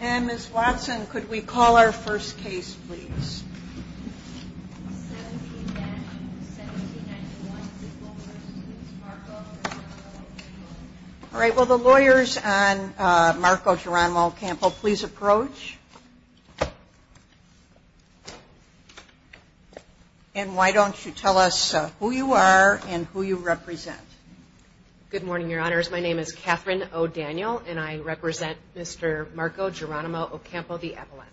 And Ms. Watson, could we call our first case, please? All right, will the lawyers on Marco Geronimo-Ocampo please approach? And why don't you tell us who you are and who you represent? Good morning, Your Honors. My name is Kathryn O'Daniel, and I represent Mr. Marco Geronimo-Ocampo, the appellant.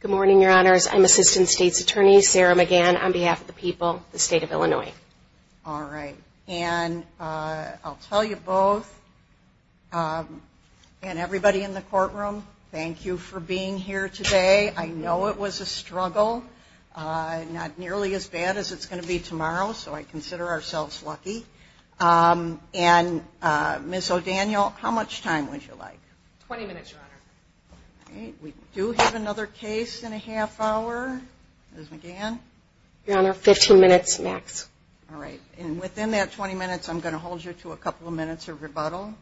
Good morning, Your Honors. I'm Assistant State's Attorney Sarah McGann on behalf of the people of the state of Illinois. All right. And I'll tell you both and everybody in the courtroom, thank you for being here today. I know it was a struggle, not nearly as bad as it's going to be tomorrow. So I consider ourselves lucky. And Ms. O'Daniel, how much time would you like? 20 minutes, Your Honor. Okay. We do have another case in a half hour. Ms. McGann? Your Honor, 15 minutes max. All right. And within that 20 minutes, I'm going to hold you to a couple of minutes of rebuttal?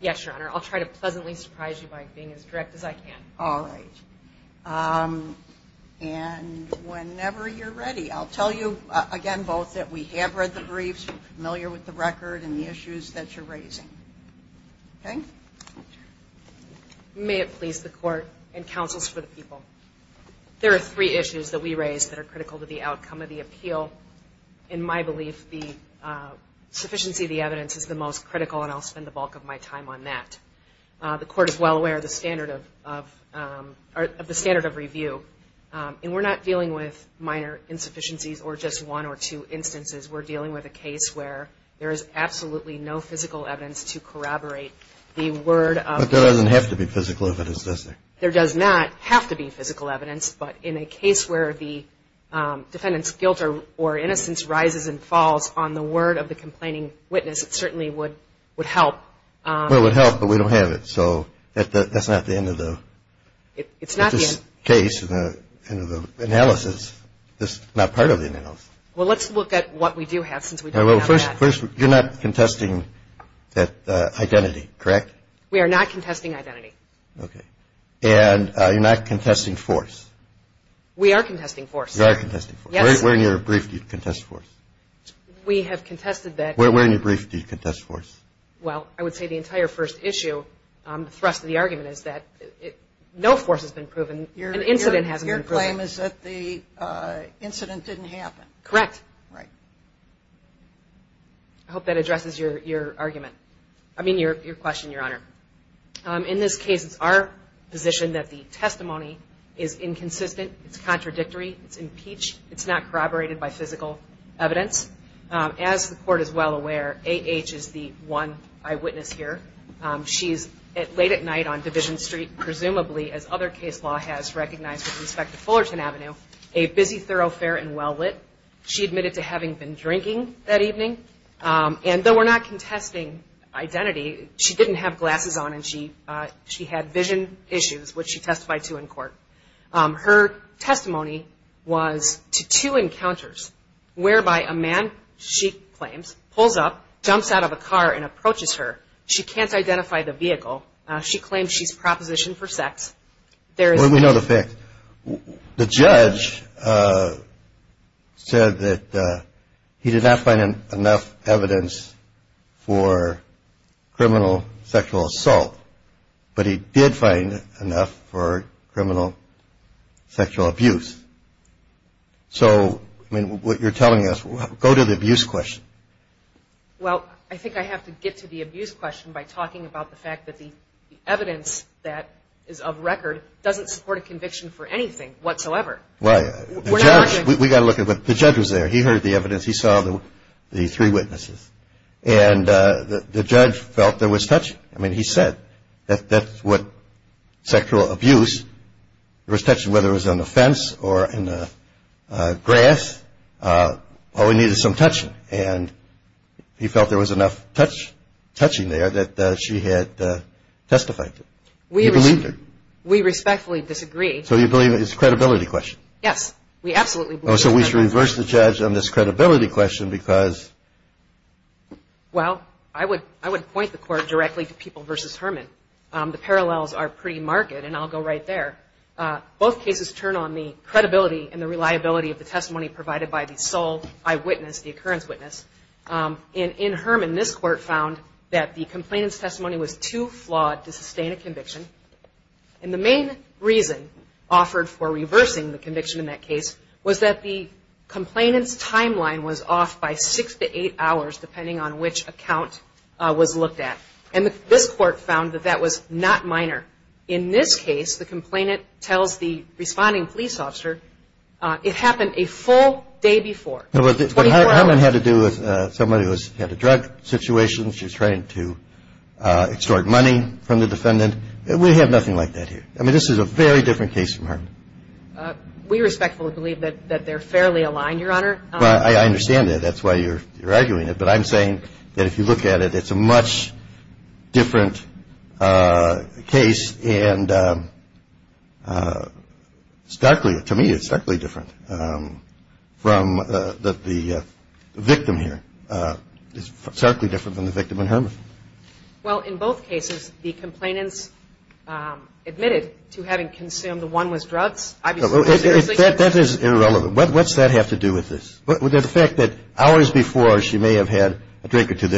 Yes, Your Honor. I'll try to pleasantly surprise you by being as direct as I can. All right. And whenever you're ready, I'll tell you again both that we have read the briefs, you're familiar with the record and the issues that you're raising. Okay? May it please the Court and counsels for the people. There are three issues that we raise that are critical to the outcome of the appeal. In my belief, the sufficiency of the evidence is the most critical, and I'll spend the bulk of my time on that. The Court is well aware of the standard of review, and we're not dealing with minor insufficiencies or just one or two instances. We're dealing with a case where there is absolutely no physical evidence to corroborate the word of the defendant. But there doesn't have to be physical evidence, does there? There does not have to be physical evidence, but in a case where the defendant's guilt or innocence rises and falls on the word of the complaining witness, it certainly would help. Well, it would help, but we don't have it, so that's not the end of the case and the analysis. It's not part of the analysis. Well, let's look at what we do have, since we don't have that. First, you're not contesting that identity, correct? We are not contesting identity. Okay. And you're not contesting force? We are contesting force. You are contesting force. Where in your brief do you contest force? We have contested that. Where in your brief do you contest force? Well, I would say the entire first issue, the thrust of the argument is that no force has been proven. An incident hasn't been proven. Your claim is that the incident didn't happen. Correct. Right. I hope that addresses your argument. I mean, your question, Your Honor. In this case, it's our position that the testimony is inconsistent. It's contradictory. It's impeached. It's not corroborated by physical evidence. As the Court is well aware, A.H. is the one eyewitness here. She is late at night on Division Street, presumably, as other case law has recognized, with respect to Fullerton Avenue, a busy thoroughfare and well-lit. She admitted to having been drinking that evening. And though we're not contesting identity, she didn't have glasses on, and she had vision issues, which she testified to in court. Her testimony was to two encounters, whereby a man, she claims, pulls up, jumps out of a car and approaches her. She can't identify the vehicle. She claims she's propositioned for sex. Well, we know the facts. The judge said that he did not find enough evidence for criminal sexual assault, but he did find enough for criminal sexual abuse. So, I mean, what you're telling us, go to the abuse question. Well, I think I have to get to the abuse question by talking about the fact that the evidence that is of record doesn't support a conviction for anything whatsoever. Right. We got to look at what the judge was there. He heard the evidence. He saw the three witnesses. And the judge felt there was touching. I mean, he said that that's what sexual abuse was touching, whether it was on the fence or in the grass. All he needed was some touching. And he felt there was enough touching there that she had testified to. He believed her. We respectfully disagree. So you believe it's a credibility question? Yes. We absolutely believe it's a credibility question. Oh, so we should reverse the judge on this credibility question because? Well, I would point the court directly to People v. Herman. The parallels are pretty marked, and I'll go right there. Both cases turn on the credibility and the reliability of the testimony provided by the sole eyewitness, the occurrence witness. And in Herman, this court found that the complainant's testimony was too flawed to sustain a conviction. And the main reason offered for reversing the conviction in that case was that the complainant's timeline was off by six to eight hours, depending on which account was looked at. And this court found that that was not minor. In this case, the complainant tells the responding police officer, it happened a full day before. But Herman had to do with somebody who had a drug situation. She was trying to extort money from the defendant. We have nothing like that here. I mean, this is a very different case from Herman. We respectfully believe that they're fairly aligned, Your Honor. I understand that. That's why you're arguing it. But I'm saying that if you look at it, it's a much different case. And starkly, to me, it's starkly different from the victim here. It's starkly different than the victim in Herman. Well, in both cases, the complainants admitted to having consumed the one with drugs, obviously. That is irrelevant. What does that have to do with this? The fact that hours before she may have had a drink or two,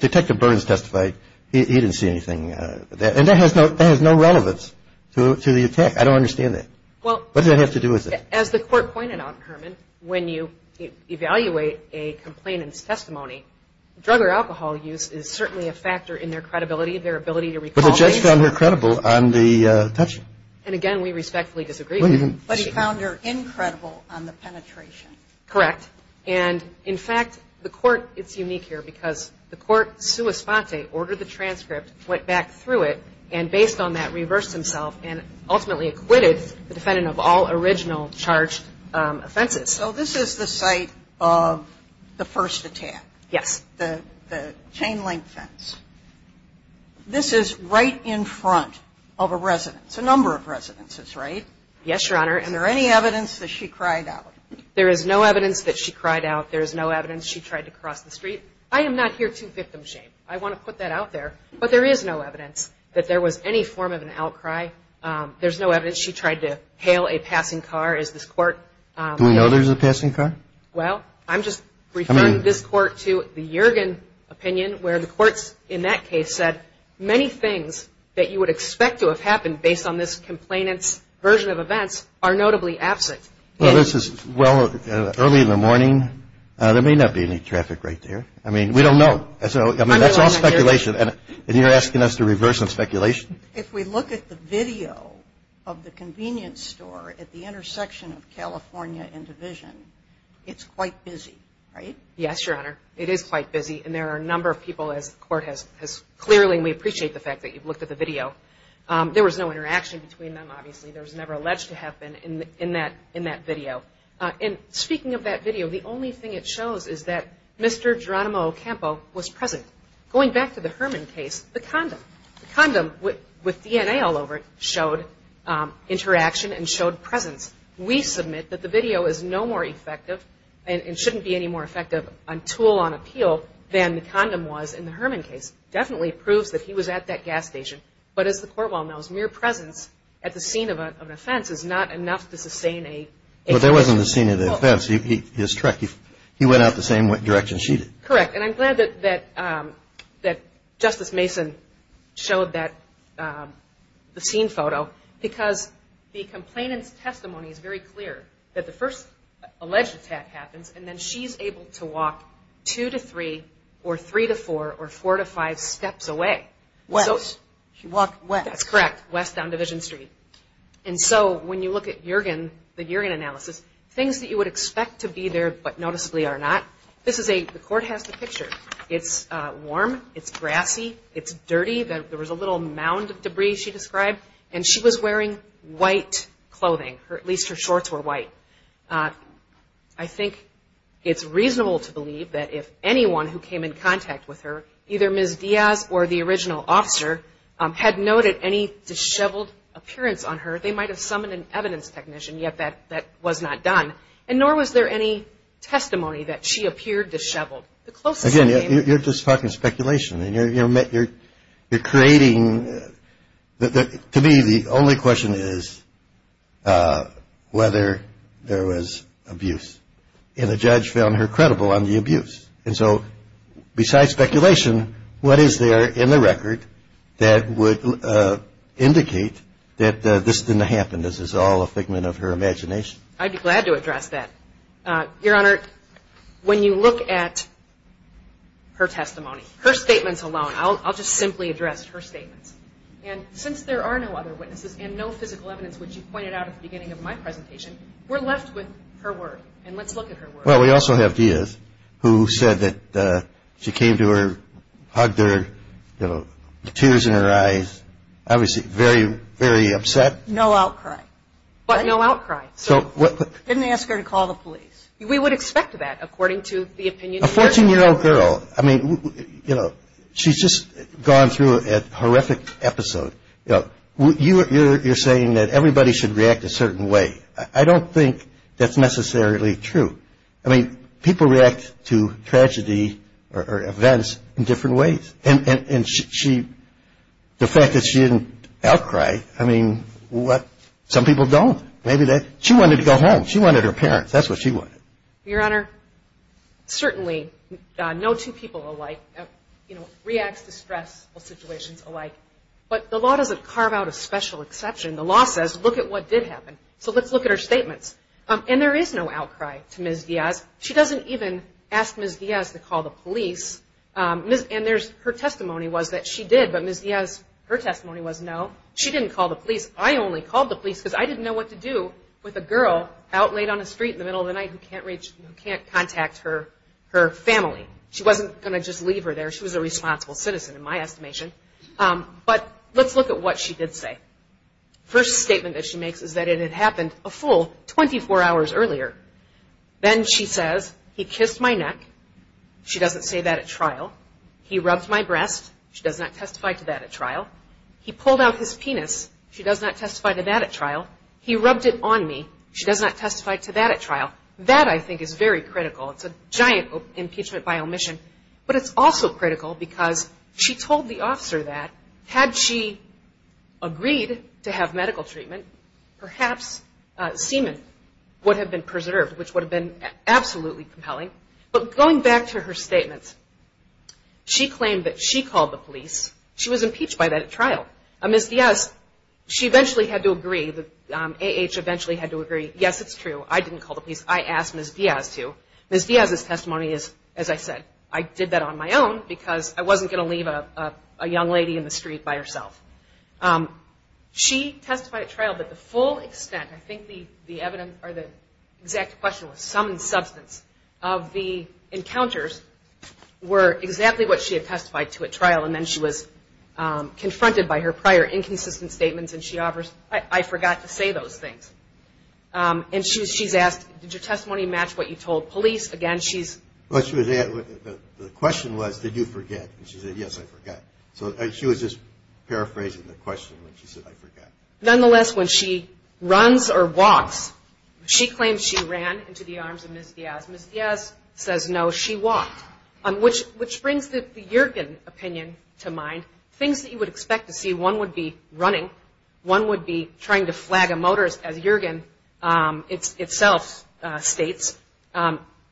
Detective Burns testified he didn't see anything. And that has no relevance to the attack. I don't understand that. What does that have to do with it? Well, as the court pointed out, Herman, when you evaluate a complainant's testimony, drug or alcohol use is certainly a factor in their credibility, their ability to recall things. But he found her credible on the touching. And, again, we respectfully disagree with that. But he found her incredible on the penetration. Correct. And, in fact, the court, it's unique here because the court, sua sponte, ordered the transcript, went back through it, and based on that reversed himself and ultimately acquitted the defendant of all original charged offenses. So this is the site of the first attack? Yes. The chain link fence. This is right in front of a residence, a number of residences, right? Yes, Your Honor. And there any evidence that she cried out? There is no evidence that she cried out. There is no evidence she tried to cross the street. I am not here to victim shame. I want to put that out there. But there is no evidence that there was any form of an outcry. There's no evidence she tried to hail a passing car as this court. Do we know there's a passing car? Well, I'm just referring this court to the Yergin opinion, where the courts in that case said many things that you would expect to have happened based on this complainant's version of events are notably absent. Well, this is early in the morning. There may not be any traffic right there. I mean, we don't know. I mean, that's all speculation. And you're asking us to reverse some speculation? If we look at the video of the convenience store at the intersection of California and Division, it's quite busy, right? Yes, Your Honor. It is quite busy. And there are a number of people, as the court has clearly, and we appreciate the fact that you've looked at the video. There was no interaction between them, obviously. There was never alleged to have been in that video. And speaking of that video, the only thing it shows is that Mr. Geronimo Ocampo was present. Going back to the Herman case, the condom, the condom with DNA all over it, showed interaction and showed presence. We submit that the video is no more effective and shouldn't be any more effective on tool on appeal than the condom was in the Herman case. It definitely proves that he was at that gas station. But as the court well knows, mere presence at the scene of an offense is not enough to sustain a conviction. But there wasn't a scene of an offense. He's correct. He went out the same direction she did. Correct. And I'm glad that Justice Mason showed the scene photo because the complainant's testimony is very clear that the first alleged attack happens and then she's able to walk two to three or three to four or four to five steps away. West. She walked west. That's correct. West down Division Street. And so when you look at the Yergin analysis, things that you would expect to be there but noticeably are not. The court has the picture. It's warm. It's grassy. It's dirty. There was a little mound of debris she described. And she was wearing white clothing. At least her shorts were white. I think it's reasonable to believe that if anyone who came in contact with her, either Ms. Diaz or the original officer, had noted any disheveled appearance on her, they might have summoned an evidence technician. Yet that was not done. And nor was there any testimony that she appeared disheveled. You're just talking speculation. You're creating to me the only question is whether there was abuse. And the judge found her credible on the abuse. And so besides speculation, what is there in the record that would indicate that this didn't happen, this is all a figment of her imagination? I'd be glad to address that. Your Honor, when you look at her testimony, her statements alone, I'll just simply address her statements. And since there are no other witnesses and no physical evidence, which you pointed out at the beginning of my presentation, we're left with her word. And let's look at her word. Well, we also have Diaz, who said that she came to her, hugged her, tears in her eyes, obviously very, very upset. No outcry. But no outcry. Didn't ask her to call the police. We would expect that, according to the opinion. A 14-year-old girl, I mean, you know, she's just gone through a horrific episode. You know, you're saying that everybody should react a certain way. I don't think that's necessarily true. I mean, people react to tragedy or events in different ways. And she, the fact that she didn't outcry, I mean, what, some people don't. Maybe they, she wanted to go home. She wanted her parents. That's what she wanted. Your Honor, certainly no two people alike, you know, reacts to stressful situations alike. But the law doesn't carve out a special exception. The law says look at what did happen. So let's look at her statements. And there is no outcry to Ms. Diaz. She doesn't even ask Ms. Diaz to call the police. And there's, her testimony was that she did, but Ms. Diaz, her testimony was no. She didn't call the police. I only called the police because I didn't know what to do with a girl out late on the street in the middle of the night who can't reach, who can't contact her family. She wasn't going to just leave her there. She was a responsible citizen in my estimation. But let's look at what she did say. First statement that she makes is that it had happened a full 24 hours earlier. Then she says, he kissed my neck. She doesn't say that at trial. He rubbed my breast. She does not testify to that at trial. He pulled out his penis. She does not testify to that at trial. He rubbed it on me. She does not testify to that at trial. That, I think, is very critical. It's a giant impeachment by omission. But it's also critical because she told the officer that had she agreed to have medical treatment, perhaps semen would have been preserved, which would have been absolutely compelling. But going back to her statements, she claimed that she called the police. She was impeached by that at trial. Ms. Diaz, she eventually had to agree. The A.H. eventually had to agree. Yes, it's true. I didn't call the police. I asked Ms. Diaz to. Ms. Diaz's testimony is, as I said, I did that on my own because I wasn't going to leave a young lady in the street by herself. She testified at trial, but the full extent, I think the exact question was sum and substance, of the encounters were exactly what she had testified to at trial, and then she was confronted by her prior inconsistent statements, and she offers, I forgot to say those things. And she's asked, did your testimony match what you told police? Again, she's. The question was, did you forget? And she said, yes, I forgot. So she was just paraphrasing the question when she said, I forgot. Nonetheless, when she runs or walks, she claims she ran into the arms of Ms. Diaz. Ms. Diaz says, no, she walked, which brings the Yergin opinion to mind, things that you would expect to see, one would be running, one would be trying to flag a motor, as Yergin itself states,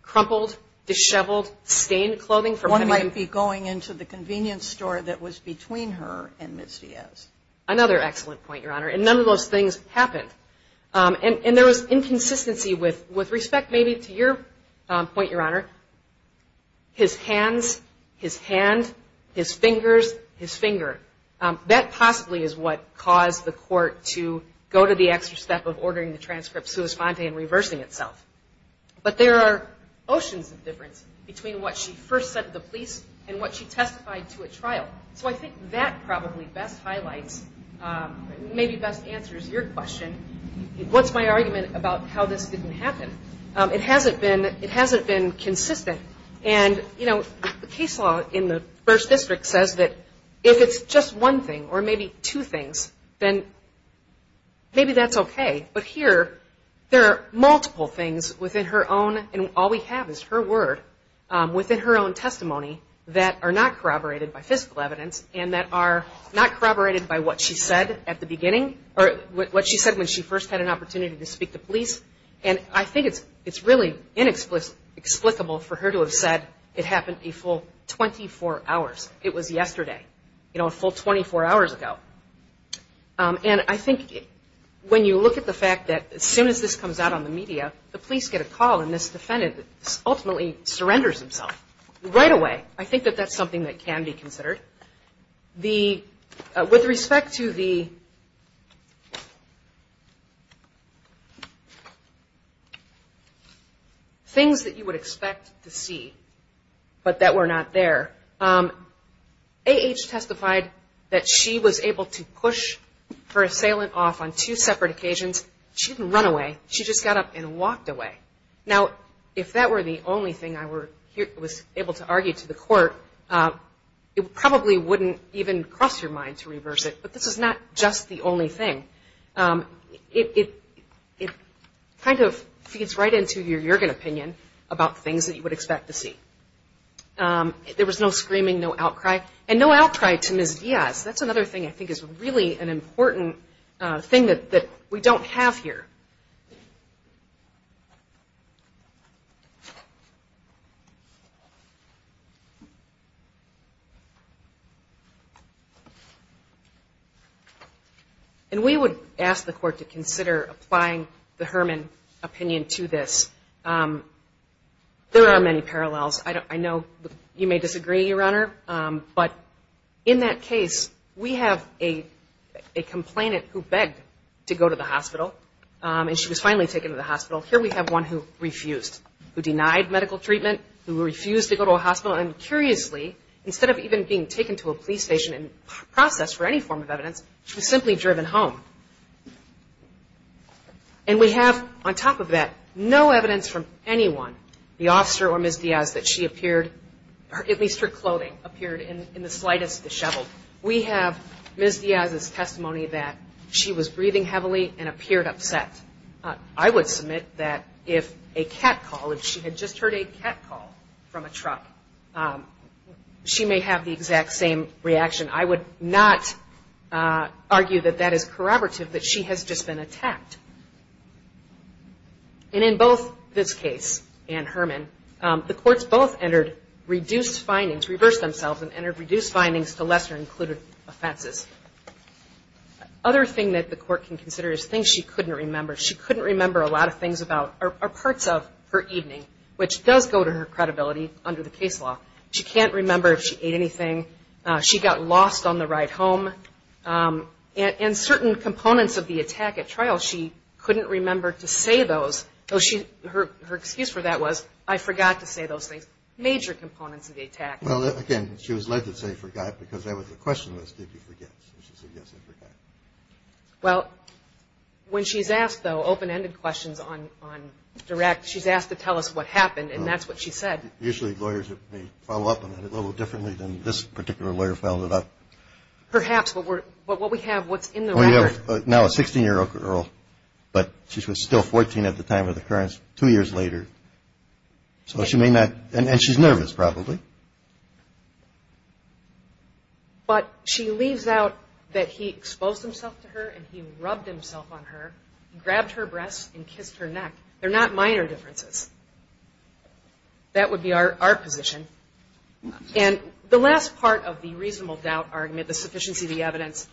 crumpled, disheveled, stained clothing. One might be going into the convenience store that was between her and Ms. Diaz. Another excellent point, Your Honor. And none of those things happened. And there was inconsistency with respect maybe to your point, Your Honor. His hands, his hand, his fingers, his finger. That possibly is what caused the court to go to the extra step of ordering the transcript sua sponte and reversing itself. But there are oceans of difference between what she first said to the police and what she testified to at trial. So I think that probably best highlights, maybe best answers your question, what's my argument about how this didn't happen. It hasn't been consistent. And, you know, the case law in the first district says that if it's just one thing or maybe two things, then maybe that's okay. But here there are multiple things within her own, and all we have is her word, within her own testimony that are not corroborated by physical evidence and that are not corroborated by what she said at the beginning, or what she said when she first had an opportunity to speak to police. And I think it's really inexplicable for her to have said it happened a full 24 hours. It was yesterday, you know, a full 24 hours ago. And I think when you look at the fact that as soon as this comes out on the media, the police get a call and this defendant ultimately surrenders himself right away. I think that that's something that can be considered. With respect to the things that you would expect to see but that were not there, A.H. testified that she was able to push her assailant off on two separate occasions. She didn't run away. She just got up and walked away. Now, if that were the only thing I was able to argue to the court, it probably wouldn't even cross your mind to reverse it, but this is not just the only thing. It kind of feeds right into your Jurgen opinion about things that you would expect to see. There was no screaming, no outcry. And no outcry to Ms. Diaz. That's another thing I think is really an important thing that we don't have here. And we would ask the court to consider applying the Herman opinion to this. There are many parallels. I know you may disagree, Your Honor, but in that case, we have a complainant who begged to go to the hospital, and she was finally taken to the hospital. Here we have one who refused, who denied medical treatment, who refused to go to a hospital. And curiously, instead of even being taken to a police station and processed for any form of evidence, she was simply driven home. And we have, on top of that, no evidence from anyone, the officer or Ms. Diaz, that she appeared, at least her clothing, appeared in the slightest disheveled. We have Ms. Diaz's testimony that she was breathing heavily and appeared upset. I would submit that if a cat call, if she had just heard a cat call from a truck, she may have the exact same reaction. I would not argue that that is corroborative, that she has just been attacked. And in both this case and Herman, the courts both entered reduced findings, reversed themselves and entered reduced findings to lesser included offenses. Other thing that the court can consider is things she couldn't remember. She couldn't remember a lot of things about or parts of her evening, which does go to her credibility under the case law. She can't remember if she ate anything. She got lost on the ride home. And certain components of the attack at trial, she couldn't remember to say those. Her excuse for that was, I forgot to say those things, major components of the attack. Well, again, she was led to say, forgot, because the question was, did you forget? So she said, yes, I forgot. Well, when she's asked, though, open-ended questions on direct, she's asked to tell us what happened, and that's what she said. Usually lawyers may follow up on that a little differently than this particular lawyer followed up. Perhaps, but what we have, what's in the record. Well, you have now a 16-year-old girl, but she was still 14 at the time of the occurrence, two years later. So she may not, and she's nervous probably. But she leaves out that he exposed himself to her and he rubbed himself on her, grabbed her breasts and kissed her neck. They're not minor differences. That would be our position. And the last part of the reasonable doubt argument, the sufficiency of the evidence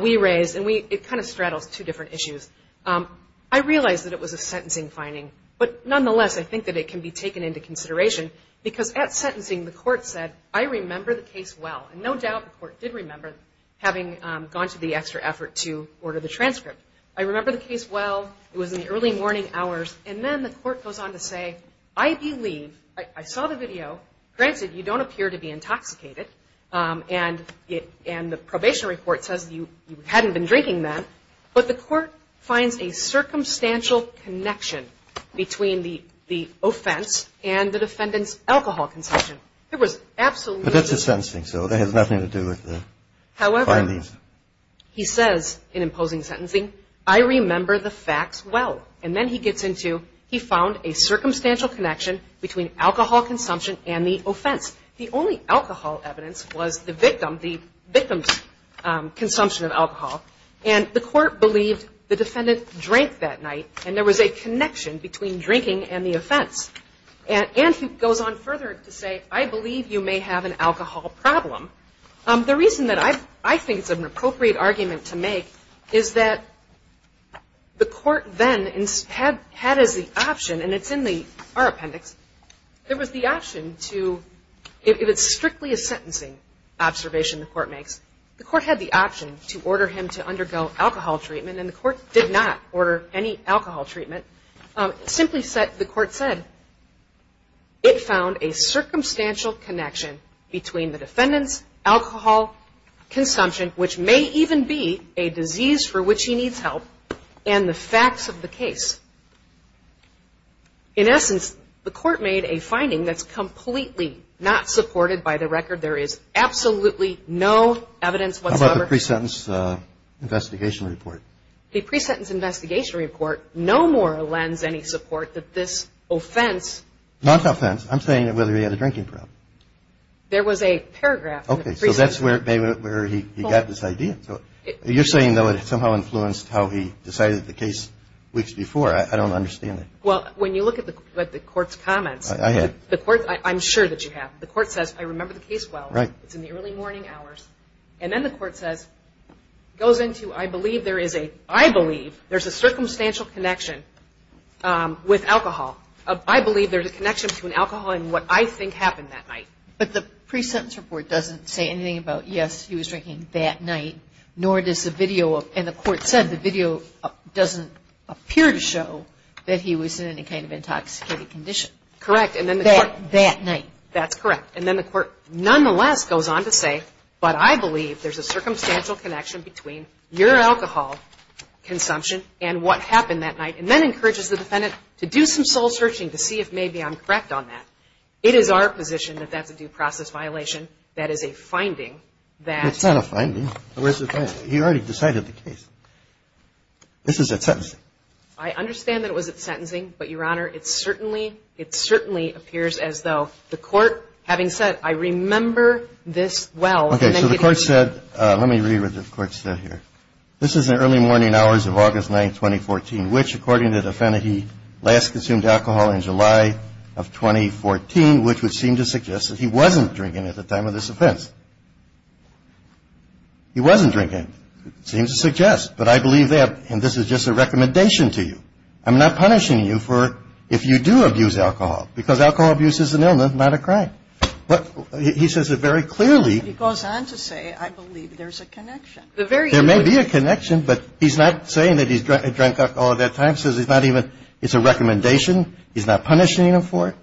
we raised, and it kind of straddles two different issues, I realized that it was a sentencing finding. But nonetheless, I think that it can be taken into consideration, because at sentencing the court said, I remember the case well. And no doubt the court did remember, having gone to the extra effort to order the transcript. I remember the case well. It was in the early morning hours. And then the court goes on to say, I believe, I saw the video. Granted, you don't appear to be intoxicated. And the probation report says you hadn't been drinking then. But the court finds a circumstantial connection between the offense and the defendant's alcohol consumption. It was absolutely. But that's a sentencing, so that has nothing to do with the findings. However, he says in imposing sentencing, I remember the facts well. And then he gets into, he found a circumstantial connection between alcohol consumption and the offense. The only alcohol evidence was the victim's consumption of alcohol. And the court believed the defendant drank that night. And there was a connection between drinking and the offense. And he goes on further to say, I believe you may have an alcohol problem. The reason that I think it's an appropriate argument to make is that the court then had as the option, and it's in our appendix, there was the option to, if it's strictly a sentencing observation the court makes, the court had the option to order him to undergo alcohol treatment. And the court did not order any alcohol treatment. Simply said, the court said, it found a circumstantial connection between the defendant's alcohol consumption, which may even be a disease for which he needs help, and the facts of the case. In essence, the court made a finding that's completely not supported by the record. There is absolutely no evidence whatsoever. How about the pre-sentence investigation report? The pre-sentence investigation report no more lends any support that this offense. Not offense. I'm saying whether he had a drinking problem. There was a paragraph. Okay. So that's where he got this idea. You're saying, though, it somehow influenced how he decided the case weeks before. I don't understand it. Well, when you look at the court's comments. I have. I'm sure that you have. The court says, I remember the case well. Right. It's in the early morning hours. And then the court says, goes into, I believe there is a, I believe there's a circumstantial connection with alcohol. I believe there's a connection between alcohol and what I think happened that night. But the pre-sentence report doesn't say anything about, yes, he was drinking that night, nor does the video. And the court said the video doesn't appear to show that he was in any kind of intoxicated condition. Correct. And then the court. That night. That's correct. And then the court nonetheless goes on to say, but I believe there's a circumstantial connection between your alcohol consumption and what happened that night. And then encourages the defendant to do some soul searching to see if maybe I'm correct on that. It is our position that that's a due process violation. That is a finding that. It's not a finding. Where's the finding? He already decided the case. This is at sentencing. I understand that it was at sentencing. But, Your Honor, it certainly, it certainly appears as though the court, having said, I remember this well. Okay. So the court said, let me read what the court said here. This is in early morning hours of August 9, 2014, which, according to the defendant, he last consumed alcohol in July of 2014, which would seem to suggest that he wasn't drinking at the time of this offense. He wasn't drinking. It seems to suggest. But I believe that. And this is just a recommendation to you. I'm not punishing you for, if you do abuse alcohol, because alcohol abuse is an illness, not a crime. But he says it very clearly. He goes on to say, I believe there's a connection. There may be a connection, but he's not saying that he drank alcohol at that time. He says he's not even, it's a recommendation. He's not punishing him for it.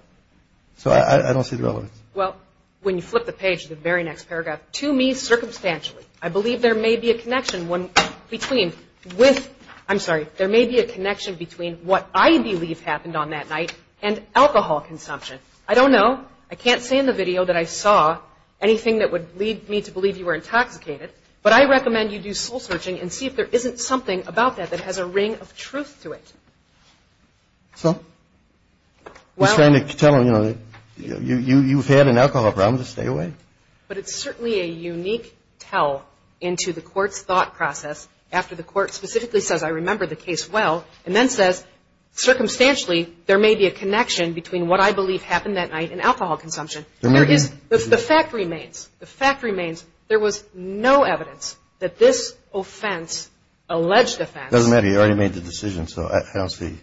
So I don't see the relevance. Well, when you flip the page to the very next paragraph, to me, circumstantially, I believe there may be a connection when, between, with, I'm sorry, there may be a connection between what I believe happened on that night and alcohol consumption. I don't know. I can't say in the video that I saw anything that would lead me to believe you were intoxicated. But I recommend you do soul searching and see if there isn't something about that that has a ring of truth to it. So? You're trying to tell him, you know, you've had an alcohol problem, just stay away? But it's certainly a unique tell into the Court's thought process after the Court specifically says, I remember the case well, and then says, circumstantially, there may be a connection between what I believe happened that night and alcohol consumption. There is, the fact remains, the fact remains, there was no evidence that this offense, alleged offense. It doesn't matter. You already made the decision, so I don't see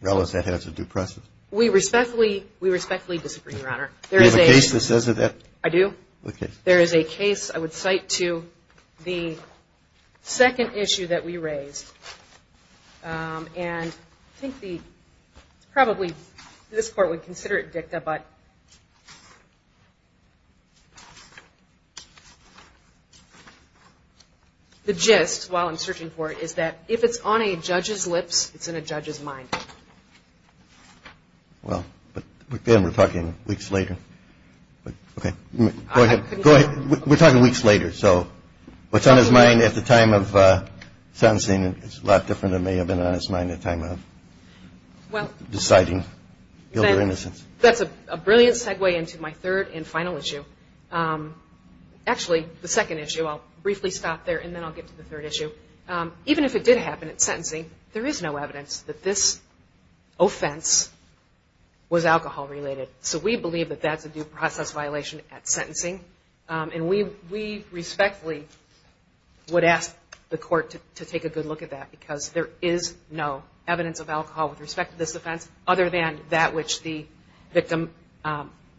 relevance. That has a due process. We respectfully, we respectfully disagree, Your Honor. There is a case that says that. I do? There is a case I would cite to the second issue that we raised. And I think the, probably this Court would consider it dicta, but the gist, while I'm searching for it, is that if it's on a judge's lips, it's in a judge's mind. Well, but then we're talking weeks later. Okay. Go ahead. Go ahead. We're talking weeks later. So what's on his mind at the time of sentencing is a lot different than may have been on his mind at the time of deciding guilt or innocence. That's a brilliant segue into my third and final issue. Actually, the second issue, I'll briefly stop there, and then I'll get to the third issue. Even if it did happen at sentencing, there is no evidence that this offense was alcohol-related. So we believe that that's a due process violation at sentencing, and we respectfully would ask the Court to take a good look at that because there is no evidence of alcohol with respect to this offense other than that which the victim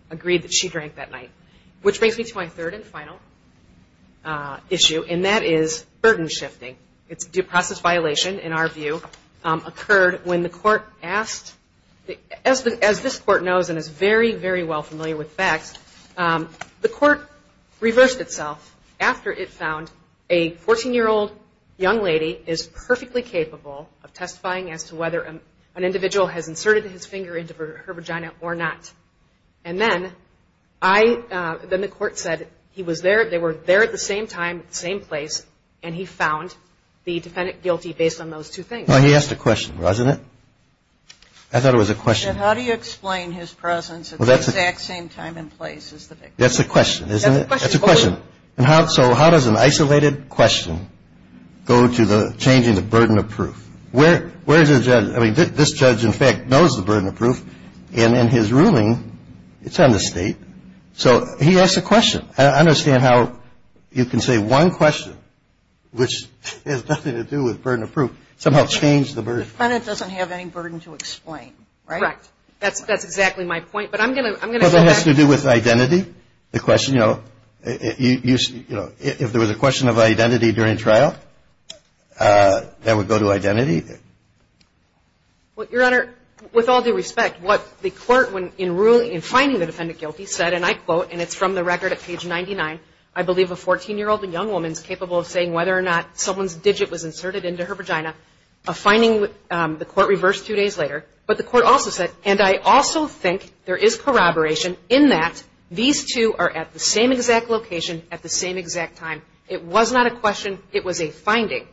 agreed that she drank that night. Which brings me to my third and final issue, and that is burden shifting. It's a due process violation, in our view, occurred when the Court asked, as this Court knows and is very, very well familiar with facts, the Court reversed itself after it found a 14-year-old young lady is perfectly capable of testifying as to whether an individual has inserted his finger into her vagina or not. And then I, then the Court said he was there, they were there at the same time, same place, and he found the defendant guilty based on those two things. Well, he asked a question, wasn't it? I thought it was a question. How do you explain his presence at the exact same time and place as the victim? That's the question, isn't it? That's the question. That's the question. So how does an isolated question go to changing the burden of proof? Where is the judge? I mean, this judge, in fact, knows the burden of proof. And in his ruling, it's on the State. So he asked a question. I don't understand how you can say one question, which has nothing to do with burden of proof, somehow change the burden. The defendant doesn't have any burden to explain, right? Correct. That's exactly my point. But I'm going to go back. Well, that has to do with identity, the question. You know, if there was a question of identity during trial, that would go to identity. Well, Your Honor, with all due respect, what the court, in finding the defendant guilty, said, and I quote, and it's from the record at page 99, I believe a 14-year-old and young woman is capable of saying whether or not someone's digit was inserted into her vagina, a finding the court reversed two days later. But the court also said, and I also think there is corroboration in that these two are at the same exact location at the same exact time. It was not a question. It was a finding.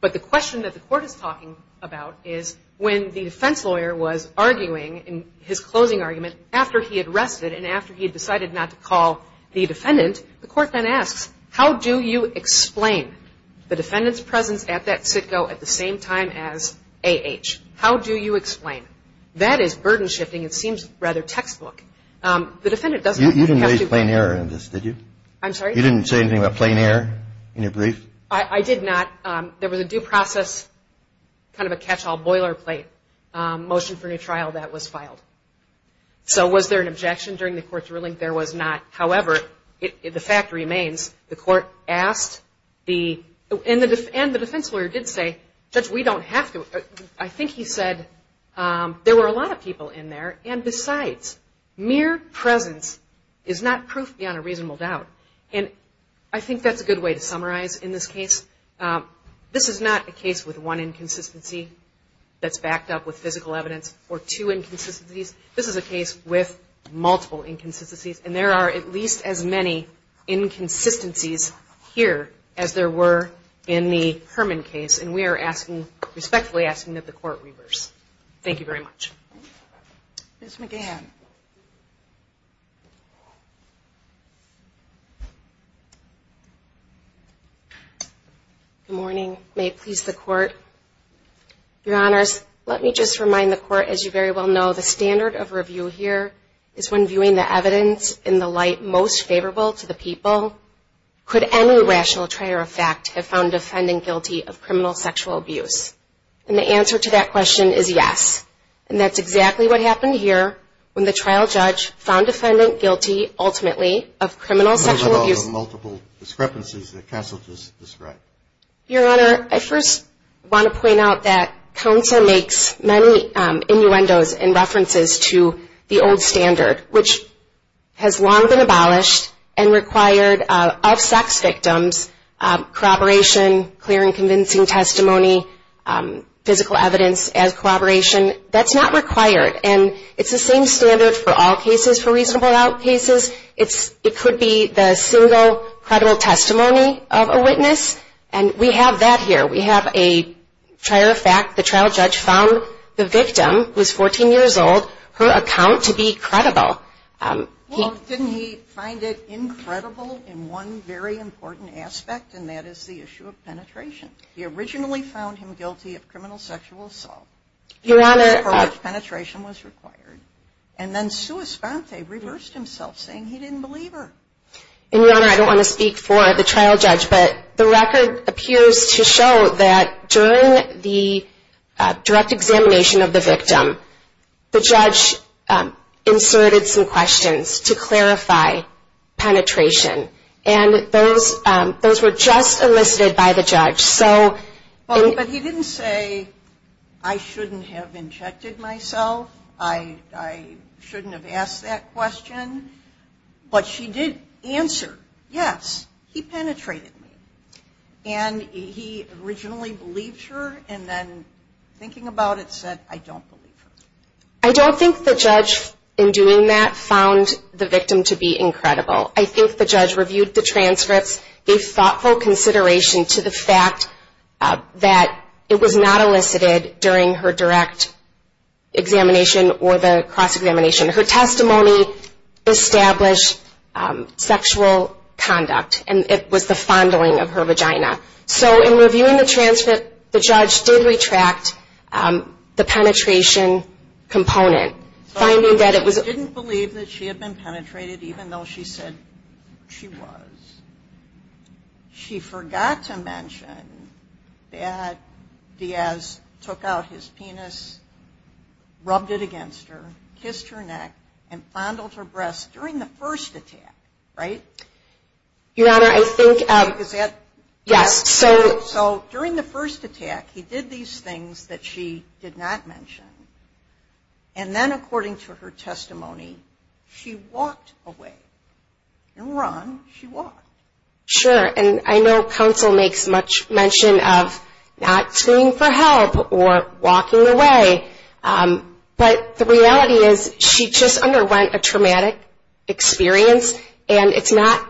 But the question that the court is talking about is when the defense lawyer was arguing in his closing argument, after he had rested and after he had decided not to call the defendant, the court then asks, how do you explain the defendant's presence at that sitco at the same time as A.H.? How do you explain? That is burden shifting. It seems rather textbook. The defendant doesn't have to explain. You didn't raise plain error in this, did you? I'm sorry? You didn't say anything about plain error in your brief? I did not. There was a due process kind of a catch-all boilerplate motion for a trial that was filed. So was there an objection during the court's ruling? There was not. However, the fact remains the court asked the, and the defense lawyer did say, Judge, we don't have to. I think he said there were a lot of people in there. And besides, mere presence is not proof beyond a reasonable doubt. And I think that's a good way to summarize in this case. This is not a case with one inconsistency that's backed up with physical evidence or two inconsistencies. This is a case with multiple inconsistencies. And there are at least as many inconsistencies here as there were in the Herman case. And we are asking, respectfully asking that the court reverse. Thank you very much. Ms. McGahan. Good morning. May it please the court. Your Honors, let me just remind the court, as you very well know, the standard of review here is when viewing the evidence in the light most favorable to the people. Could any rational trait or effect have found the defendant guilty of criminal sexual abuse? And the answer to that question is yes. And that's exactly what happened here when the trial judge found the defendant guilty, ultimately, of criminal sexual abuse. Multiple discrepancies that counsel just described. Your Honor, I first want to point out that counsel makes many innuendos and references to the old standard, which has long been abolished and required of sex victims. Corroboration, clear and convincing testimony, physical evidence as corroboration. That's not required. And it's the same standard for all cases, for reasonable doubt cases. It could be the single credible testimony of a witness. And we have that here. We have a prior fact. The trial judge found the victim, who was 14 years old, her account to be credible. Well, didn't he find it incredible in one very important aspect, and that is the issue of penetration. He originally found him guilty of criminal sexual assault. Your Honor. For which penetration was required. And then sua sponte, reversed himself, saying he didn't believe her. And, Your Honor, I don't want to speak for the trial judge, but the record appears to show that during the direct examination of the victim, the judge inserted some questions to clarify penetration. And those were just elicited by the judge. But he didn't say, I shouldn't have injected myself, I shouldn't have asked that question. But she did answer, yes, he penetrated me. And he originally believed her, and then thinking about it, said, I don't believe her. I don't think the judge, in doing that, found the victim to be incredible. I think the judge reviewed the transcripts, gave thoughtful consideration to the fact that it was not elicited during her direct examination or the cross-examination. Her testimony established sexual conduct, and it was the fondling of her vagina. So in reviewing the transcript, the judge did retract the penetration component, finding that it was. Didn't believe that she had been penetrated, even though she said she was. She forgot to mention that Diaz took out his penis, rubbed it against her, kissed her neck, and fondled her breasts during the first attack, right? Your Honor, I think, yes. So during the first attack, he did these things that she did not mention. And then, according to her testimony, she walked away. In run, she walked. Sure, and I know counsel makes much mention of not screaming for help or walking away, but the reality is she just underwent a traumatic experience, and it's not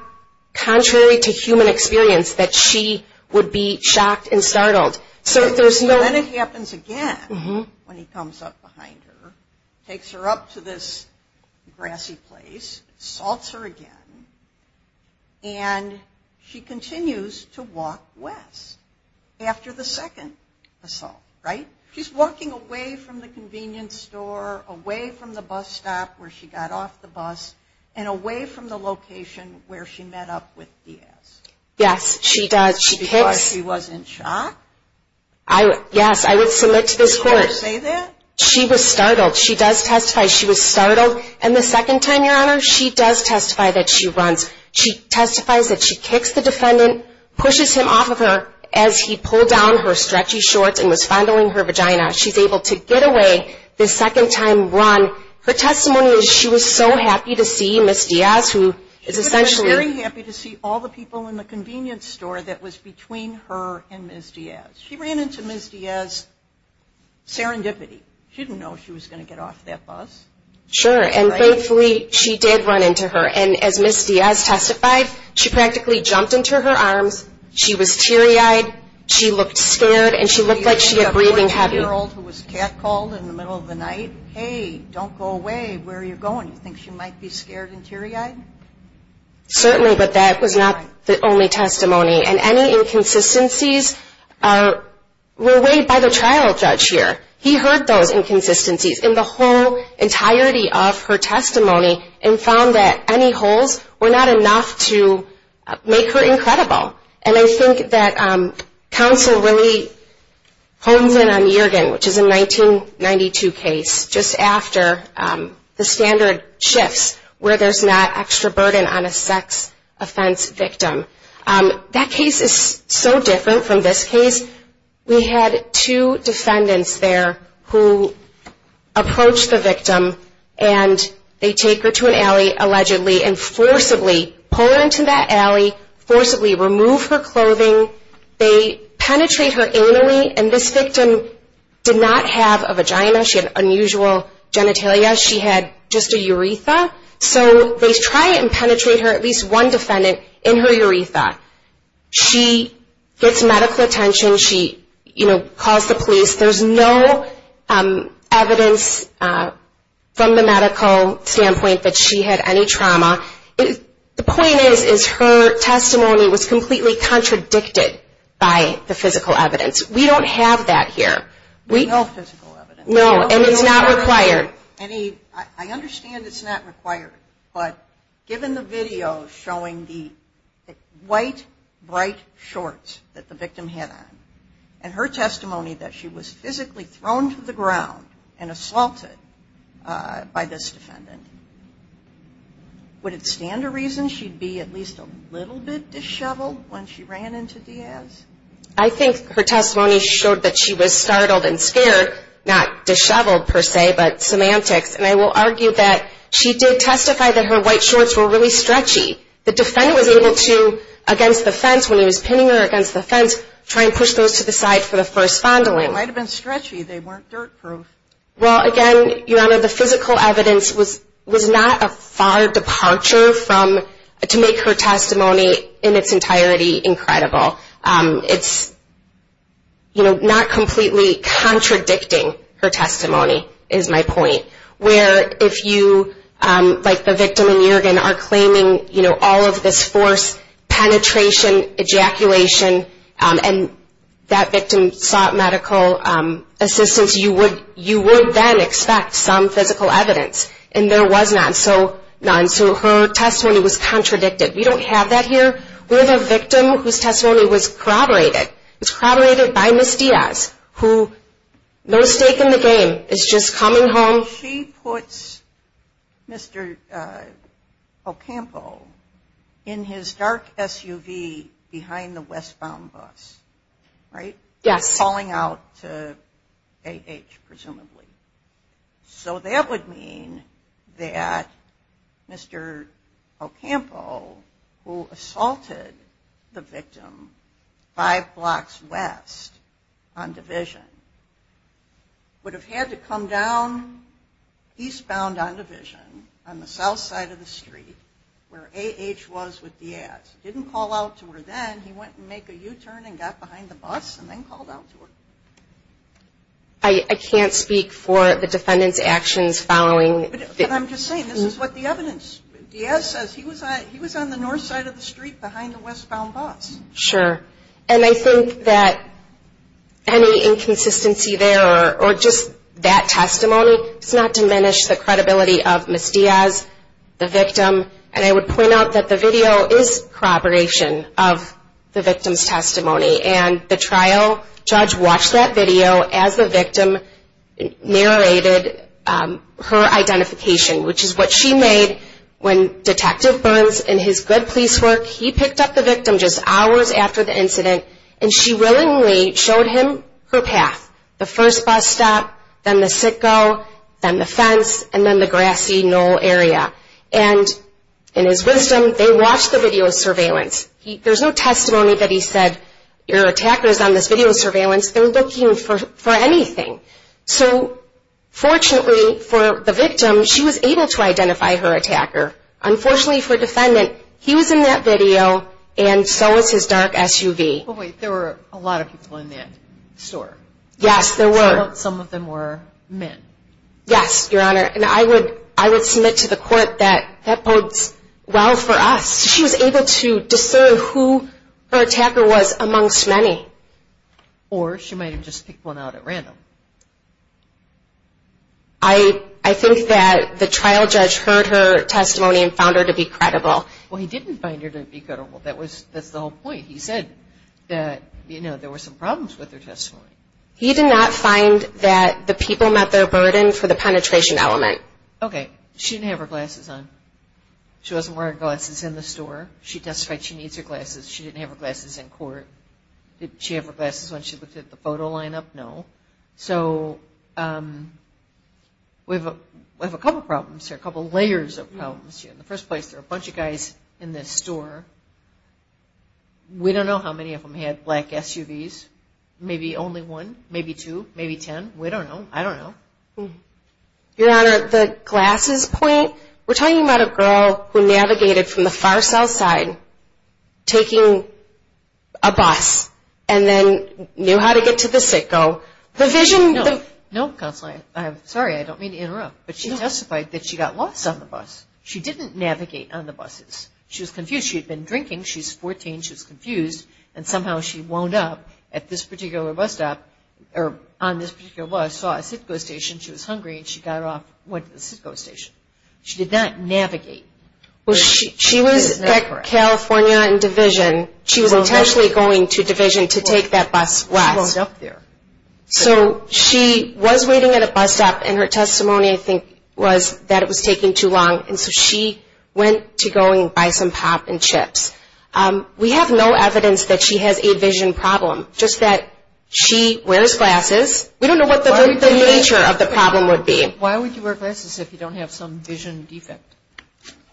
contrary to human experience that she would be shocked and startled. Then it happens again when he comes up behind her, takes her up to this grassy place, assaults her again, and she continues to walk west after the second assault, right? She's walking away from the convenience store, away from the bus stop where she got off the bus, and away from the location where she met up with Diaz. Yes, she does. Because she wasn't shocked? Yes, I would submit to this court. You would say that? She was startled. She does testify she was startled. And the second time, Your Honor, she does testify that she runs. She testifies that she kicks the defendant, pushes him off of her as he pulled down her stretchy shorts and was fondling her vagina. She's able to get away the second time run. Her testimony is she was so happy to see Ms. Diaz, who is essentially ñ between her and Ms. Diaz. She ran into Ms. Diaz serendipity. She didn't know if she was going to get off that bus. Sure, and thankfully, she did run into her. And as Ms. Diaz testified, she practically jumped into her arms. She was teary-eyed. She looked scared, and she looked like she had breathing heavy. Do you think a 14-year-old who was catcalled in the middle of the night, hey, don't go away, where are you going, you think she might be scared and teary-eyed? Certainly, but that was not the only testimony. And any inconsistencies were weighed by the trial judge here. He heard those inconsistencies in the whole entirety of her testimony and found that any holes were not enough to make her incredible. And I think that counsel really hones in on the organ, which is a 1992 case, just after the standard shifts where there's not extra burden on a sex offense victim. That case is so different from this case. We had two defendants there who approached the victim, and they take her to an alley, allegedly, and forcibly pull her into that alley, forcibly remove her clothing. They penetrate her anally, and this victim did not have a vagina. She had unusual genitalia. She had just a urethra. So they try and penetrate her, at least one defendant, in her urethra. She gets medical attention. She, you know, calls the police. There's no evidence from the medical standpoint that she had any trauma. The point is, is her testimony was completely contradicted by the physical evidence. We don't have that here. No physical evidence. No, and it's not required. I understand it's not required, but given the video showing the white, bright shorts that the victim had on, and her testimony that she was physically thrown to the ground and assaulted by this defendant, would it stand to reason she'd be at least a little bit disheveled when she ran into Diaz? I think her testimony showed that she was startled and scared, not disheveled per se, but semantics, and I will argue that she did testify that her white shorts were really stretchy. The defendant was able to, against the fence, when he was pinning her against the fence, try and push those to the side for the first fondling. They might have been stretchy. They weren't dirt-proof. Well, again, Your Honor, the physical evidence was not a far departure to make her testimony in its entirety incredible. It's not completely contradicting her testimony, is my point, where if you, like the victim in Yergin, are claiming all of this force, penetration, ejaculation, and that victim sought medical assistance, you would then expect some physical evidence, and there was none. So her testimony was contradicted. We don't have that here. We have a victim whose testimony was corroborated. It was corroborated by Ms. Diaz, who, no stake in the game, is just coming home. She puts Mr. Ocampo in his dark SUV behind the westbound bus, right? Yes. Calling out to A.H., presumably. So that would mean that Mr. Ocampo, who assaulted the victim five blocks west on Division, would have had to come down eastbound on Division, on the south side of the street, where A.H. was with Diaz. Didn't call out to her then. He went and made a U-turn and got behind the bus and then called out to her. I can't speak for the defendant's actions following. But I'm just saying, this is what the evidence. Diaz says he was on the north side of the street behind the westbound bus. Sure. And I think that any inconsistency there, or just that testimony, does not diminish the credibility of Ms. Diaz, the victim. And I would point out that the video is corroboration of the victim's testimony, and the trial judge watched that video as the victim narrated her identification, which is what she made when Detective Burns, in his good police work, he picked up the victim just hours after the incident, and she willingly showed him her path. The first bus stop, then the sit-go, then the fence, and then the grassy knoll area. And in his wisdom, they watched the video surveillance. There's no testimony that he said, your attacker's on this video surveillance, they're looking for anything. So fortunately for the victim, she was able to identify her attacker. Unfortunately for the defendant, he was in that video, and so was his dark SUV. Wait, there were a lot of people in that store. Yes, there were. Some of them were men. Yes, Your Honor. And I would submit to the court that that bodes well for us. She was able to discern who her attacker was amongst many. Or she might have just picked one out at random. I think that the trial judge heard her testimony and found her to be credible. Well, he didn't find her to be credible. That's the whole point. He said that there were some problems with her testimony. He did not find that the people met their burden for the penetration element. Okay. She didn't have her glasses on. She wasn't wearing glasses in the store. She testified she needs her glasses. She didn't have her glasses in court. Did she have her glasses when she looked at the photo lineup? No. So we have a couple problems here, a couple layers of problems here. In the first place, there were a bunch of guys in this store. We don't know how many of them had black SUVs. Maybe only one, maybe two, maybe ten. We don't know. I don't know. Your Honor, the glasses point, we're talking about a girl who navigated from the far south side taking a bus and then knew how to get to the Citgo. No, Counselor, I'm sorry, I don't mean to interrupt, but she testified that she got lost on the bus. She didn't navigate on the buses. She was confused. She had been drinking. She's 14. She was confused, and somehow she wound up at this particular bus stop or on this particular bus, saw a Citgo station. She was hungry, and she got off, went to the Citgo station. She did not navigate. She was at California and Division. She was intentionally going to Division to take that bus west. She wound up there. So she was waiting at a bus stop, and her testimony, I think, was that it was taking too long, and so she went to go and buy some pop and chips. We have no evidence that she has a vision problem, just that she wears glasses. We don't know what the nature of the problem would be. Why would you wear glasses if you don't have some vision defect?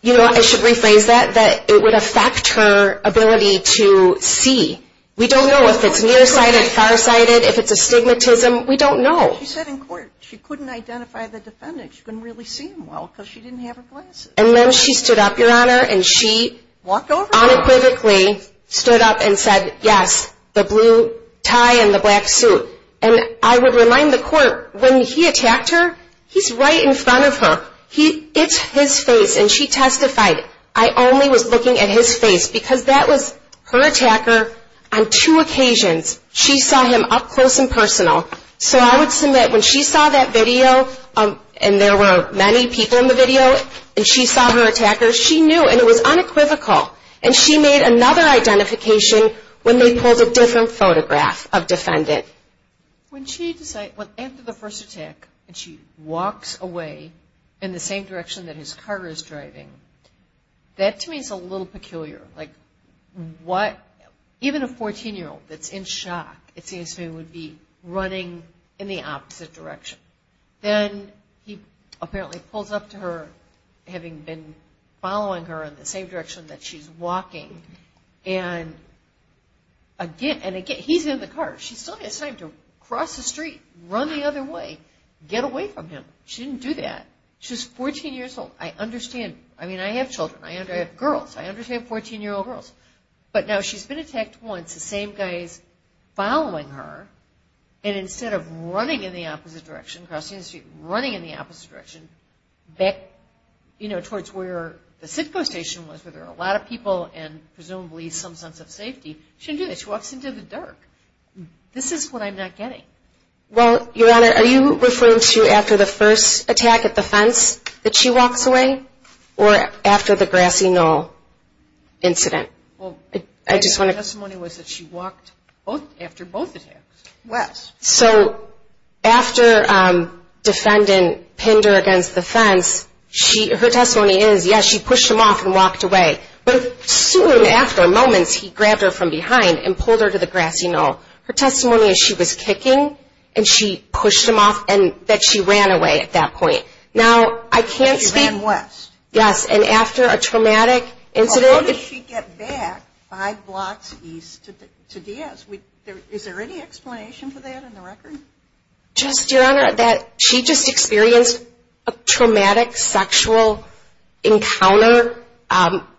You know, I should rephrase that, that it would affect her ability to see. We don't know if it's nearsighted, farsighted, if it's astigmatism. We don't know. She said in court she couldn't identify the defendant. She couldn't really see him well because she didn't have her glasses. And then she stood up, Your Honor, and she unequivocally stood up and said, yes, the blue tie and the black suit. And I would remind the court, when he attacked her, he's right in front of her. It's his face, and she testified. I only was looking at his face because that was her attacker on two occasions. She saw him up close and personal. So I would submit when she saw that video, and there were many people in the video, and she saw her attacker, she knew, and it was unequivocal. And she made another identification when they pulled a different photograph of defendant. When she decided, after the first attack, and she walks away in the same direction that his car is driving, that to me is a little peculiar. Like what, even a 14-year-old that's in shock, it seems to me, would be running in the opposite direction. Then he apparently pulls up to her, having been following her in the same direction that she's walking, and again, he's in the car. She still has time to cross the street, run the other way, get away from him. She didn't do that. She was 14 years old. I understand. I mean, I have children. I have girls. I understand 14-year-old girls. But now she's been attacked once, the same guy is following her, and instead of running in the opposite direction, crossing the street, running in the opposite direction, back towards where the CITCO station was, where there are a lot of people and presumably some sense of safety, she didn't do that. She walks into the dark. This is what I'm not getting. Well, Your Honor, are you referring to after the first attack at the fence that she walks away, or after the Grassy Knoll incident? Well, my testimony was that she walked after both attacks. So after a defendant pinned her against the fence, her testimony is, yes, she pushed him off and walked away. But soon after, moments, he grabbed her from behind and pulled her to the Grassy Knoll. Her testimony is she was kicking, and she pushed him off, and that she ran away at that point. She ran west. Yes, and after a traumatic incident. How did she get back five blocks east to Diaz? Is there any explanation for that in the record? Just, Your Honor, that she just experienced a traumatic sexual encounter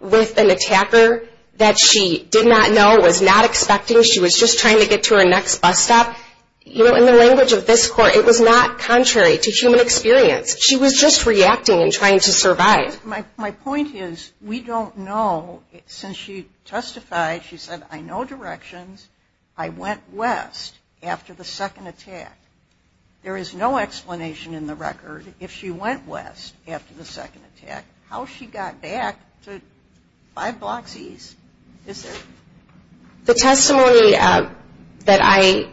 with an attacker that she did not know, was not expecting. She was just trying to get to her next bus stop. You know, in the language of this court, it was not contrary to human experience. She was just reacting and trying to survive. My point is, we don't know. Since she testified, she said, I know directions. I went west after the second attack. There is no explanation in the record if she went west after the second attack, how she got back to five blocks east. Is there? The testimony that I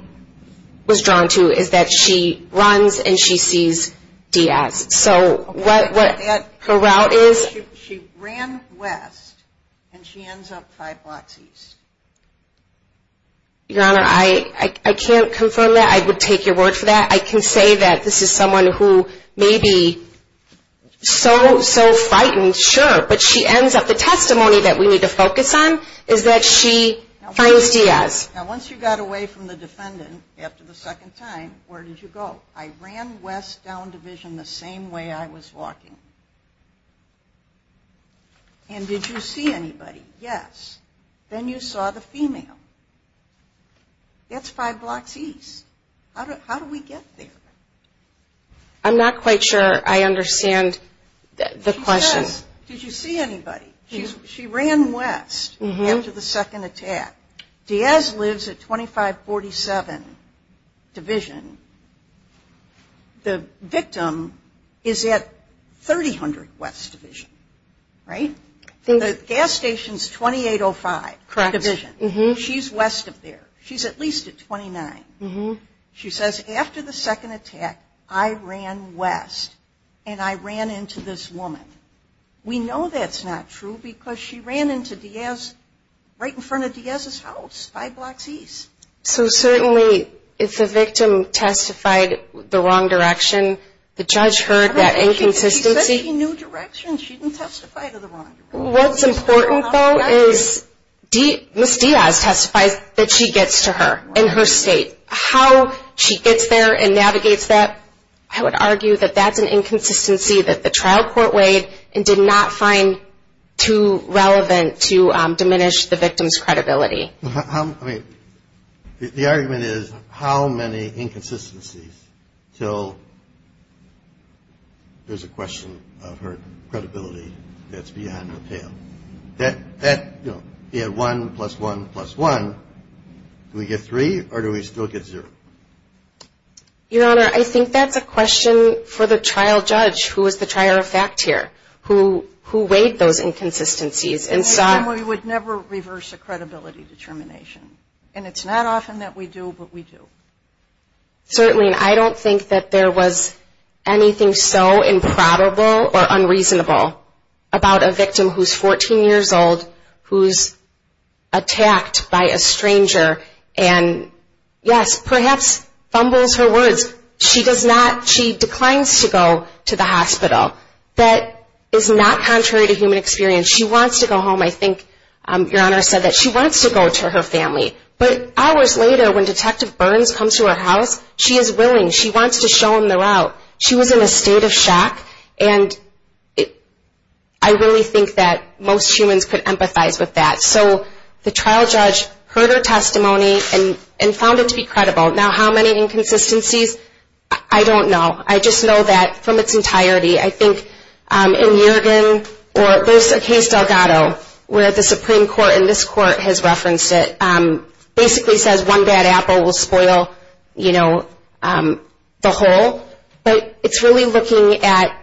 was drawn to is that she runs and she sees Diaz. So what her route is. She ran west and she ends up five blocks east. Your Honor, I can't confirm that. I would take your word for that. I can say that this is someone who may be so frightened, sure, but she ends up, the testimony that we need to focus on is that she finds Diaz. Now once you got away from the defendant after the second time, where did you go? I ran west down Division the same way I was walking. And did you see anybody? Yes. Then you saw the female. That's five blocks east. How do we get there? I'm not quite sure I understand the question. Did you see anybody? She ran west after the second attack. Diaz lives at 2547 Division. The victim is at 300 West Division, right? The gas station is 2805 Division. She's west of there. She's at least at 29. She says, after the second attack, I ran west and I ran into this woman. We know that's not true because she ran into Diaz right in front of Diaz's house, five blocks east. So certainly if the victim testified the wrong direction, the judge heard that inconsistency. She said she knew directions. She didn't testify to the wrong direction. What's important, though, is Ms. Diaz testifies that she gets to her in her state. How she gets there and navigates that, I would argue that that's an inconsistency that the trial court weighed and did not find too relevant to diminish the victim's credibility. I mean, the argument is how many inconsistencies until there's a question of her credibility that's beyond a pale. That, you know, you had one plus one plus one. Do we get three or do we still get zero? Your Honor, I think that's a question for the trial judge who is the trier of fact here, who weighed those inconsistencies. And we would never reverse a credibility determination. And it's not often that we do, but we do. Certainly, and I don't think that there was anything so improbable or unreasonable about a victim who's 14 years old, who's attacked by a stranger and, yes, perhaps fumbles her words. She does not, she declines to go to the hospital. That is not contrary to human experience. She wants to go home. I think Your Honor said that she wants to go to her family. But hours later, when Detective Burns comes to her house, she is willing. She wants to show him the route. She was in a state of shock. And I really think that most humans could empathize with that. So the trial judge heard her testimony and found it to be credible. Now, how many inconsistencies, I don't know. I just know that from its entirety. I think in Yergin or there's a case, Delgado, where the Supreme Court and this Court has referenced it, basically says one bad apple will spoil, you know, the whole. But it's really looking at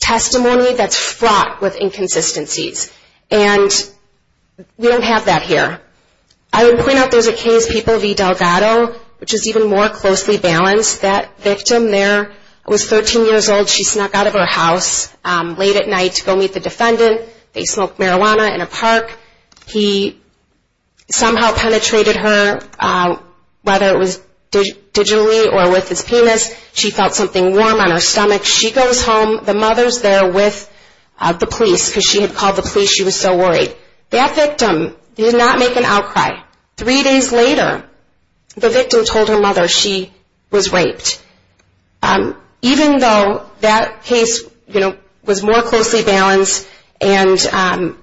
testimony that's fraught with inconsistencies. And we don't have that here. I would point out there's a case, People v. Delgado, which is even more closely balanced. That victim there was 13 years old. She snuck out of her house late at night to go meet the defendant. They smoked marijuana in a park. He somehow penetrated her, whether it was digitally or with his penis. She felt something warm on her stomach. She goes home. The mother's there with the police because she had called the police. She was so worried. That victim did not make an outcry. Three days later, the victim told her mother she was raped. Even though that case, you know, was more closely balanced and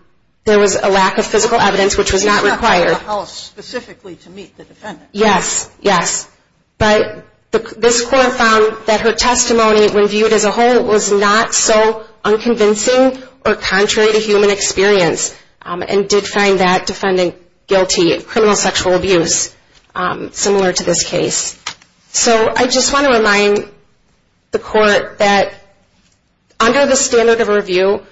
there was a lack of physical evidence, which was not required. She snuck out of the house specifically to meet the defendant. Yes, yes. But this court found that her testimony, when viewed as a whole, was not so unconvincing or contrary to human experience and did find that defendant guilty of criminal sexual abuse, similar to this case. So I just want to remind the court that under the standard of review,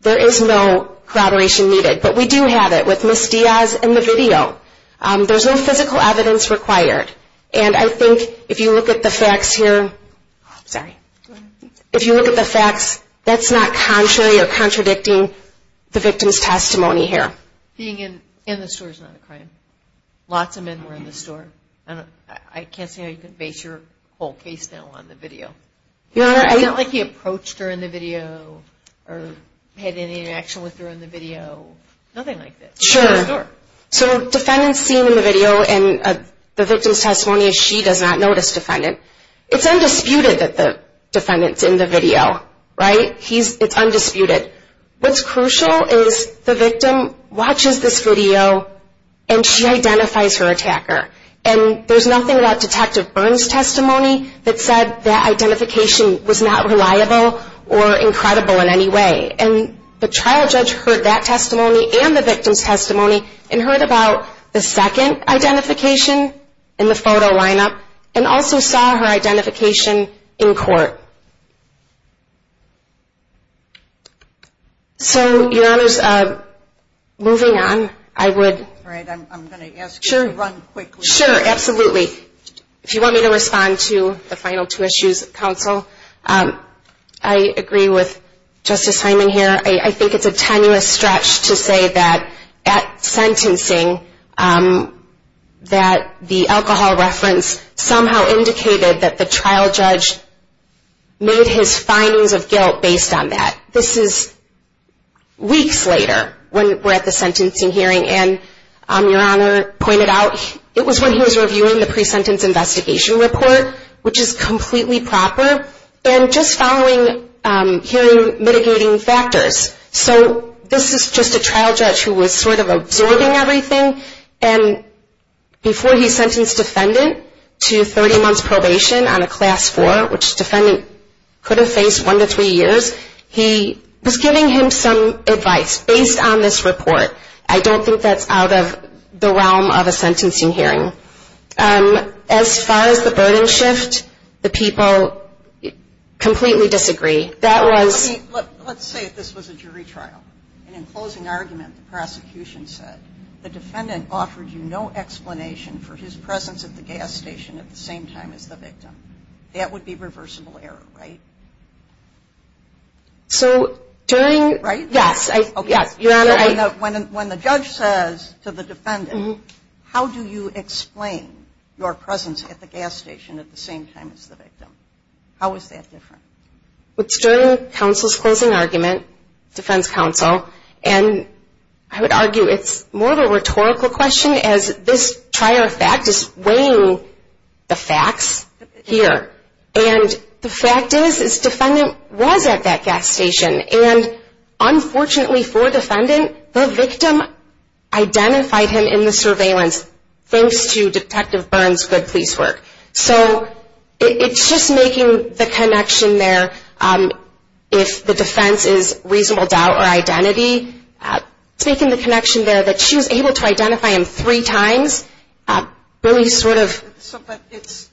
there is no collaboration needed. But we do have it with Ms. Diaz and the video. There's no physical evidence required. And I think if you look at the facts here, that's not contrary or contradicting the victim's testimony here. Being in the store is not a crime. Lots of men were in the store. I can't see how you can base your whole case now on the video. It's not like he approached her in the video or had any interaction with her in the video. Nothing like that. Sure. So defendants seen in the video and the victim's testimony, she does not notice defendant. It's undisputed that the defendant's in the video, right? It's undisputed. What's crucial is the victim watches this video and she identifies her attacker. And there's nothing about Detective Byrne's testimony that said that identification was not reliable or incredible in any way. And the trial judge heard that testimony and the victim's testimony and heard about the second identification in the photo lineup and also saw her identification in court. So, Your Honors, moving on, I would – All right, I'm going to ask you to run quickly. Sure, absolutely. If you want me to respond to the final two issues, Counsel, I agree with Justice Hyman here. I think it's a tenuous stretch to say that at sentencing that the alcohol reference somehow indicated that the trial judge made his findings of guilt based on that. This is weeks later when we're at the sentencing hearing, and Your Honor pointed out it was when he was reviewing the and just following hearing mitigating factors. So this is just a trial judge who was sort of absorbing everything, and before he sentenced defendant to 30 months probation on a Class 4, which defendant could have faced one to three years, he was giving him some advice based on this report. I don't think that's out of the realm of a sentencing hearing. As far as the burden shift, the people completely disagree. That was – Let's say this was a jury trial, and in closing argument the prosecution said, the defendant offered you no explanation for his presence at the gas station at the same time as the victim. That would be reversible error, right? So during – Right? Yes. When the judge says to the defendant, how do you explain your presence at the gas station at the same time as the victim? How is that different? It's during counsel's closing argument, defense counsel, and I would argue it's more of a rhetorical question as this trial fact is weighing the facts here, and the fact is this defendant was at that gas station, and unfortunately for the defendant, the victim identified him in the surveillance thanks to Detective Byrne's good police work. So it's just making the connection there, if the defense is reasonable doubt or identity, it's making the connection there that she was able to identify him three times, really sort of – But it's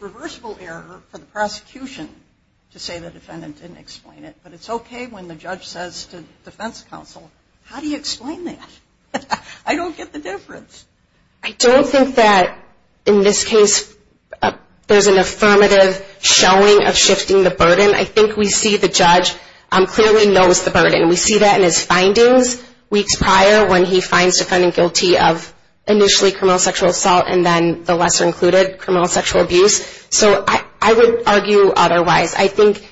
reversible error for the prosecution to say the defendant didn't explain it, but it's okay when the judge says to defense counsel, how do you explain that? I don't get the difference. I don't think that in this case there's an affirmative showing of shifting the burden. I think we see the judge clearly knows the burden. We see that in his findings weeks prior when he finds the defendant guilty of initially criminal sexual assault and then the lesser included, criminal sexual abuse. So I would argue otherwise. I think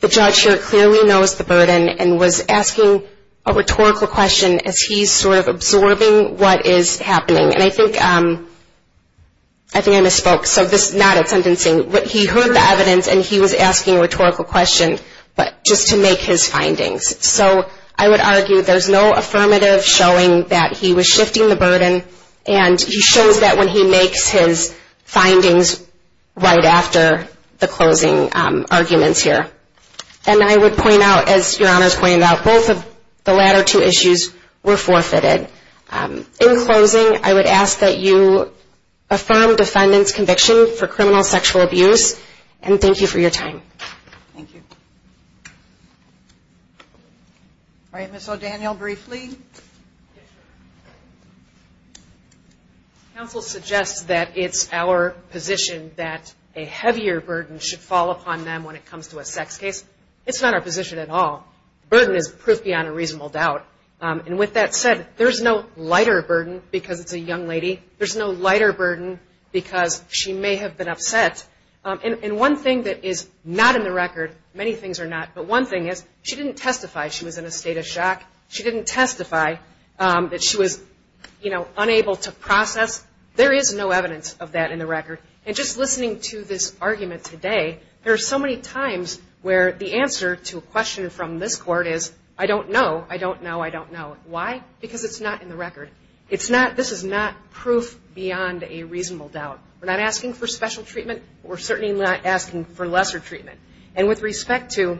the judge here clearly knows the burden and was asking a rhetorical question as he's sort of absorbing what is happening. And I think I misspoke, so this is not a sentencing. He heard the evidence and he was asking a rhetorical question, but just to make his findings. So I would argue there's no affirmative showing that he was shifting the burden, and he shows that when he makes his findings right after the closing arguments here. And I would point out, as Your Honor's pointed out, both of the latter two issues were forfeited. In closing, I would ask that you affirm defendant's conviction for criminal sexual abuse and thank you for your time. Thank you. All right, Ms. O'Daniel, briefly. Counsel suggests that it's our position that a heavier burden should fall upon them when it comes to a sex case. It's not our position at all. Burden is proof beyond a reasonable doubt. And with that said, there's no lighter burden because it's a young lady. There's no lighter burden because she may have been upset. And one thing that is not in the record, many things are not, but one thing is she didn't testify she was in a state of shock. She didn't testify that she was, you know, unable to process. There is no evidence of that in the record. And just listening to this argument today, there are so many times where the answer to a question from this court is, I don't know, I don't know, I don't know. Why? Because it's not in the record. This is not proof beyond a reasonable doubt. We're not asking for special treatment, but we're certainly not asking for lesser treatment. And with respect to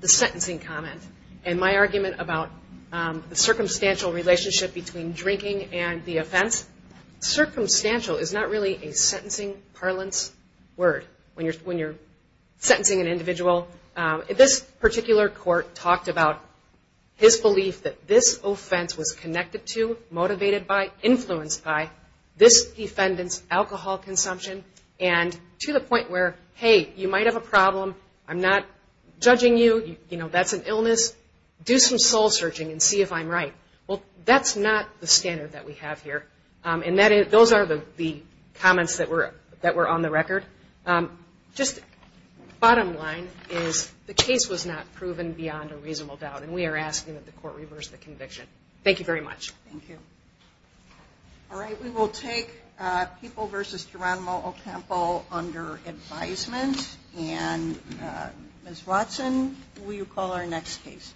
the sentencing comment and my argument about the circumstantial relationship between drinking and the offense, circumstantial is not really a sentencing parlance word when you're sentencing an individual. This particular court talked about his belief that this offense was connected to, motivated by, influenced by this defendant's alcohol consumption. And to the point where, hey, you might have a problem. I'm not judging you. You know, that's an illness. Do some soul searching and see if I'm right. Well, that's not the standard that we have here. And those are the comments that were on the record. Just bottom line is the case was not proven beyond a reasonable doubt. And we are asking that the court reverse the conviction. Thank you very much. All right. We will take people versus Geronimo Ocampo under advisement. And Ms. Watson, will you call our next case?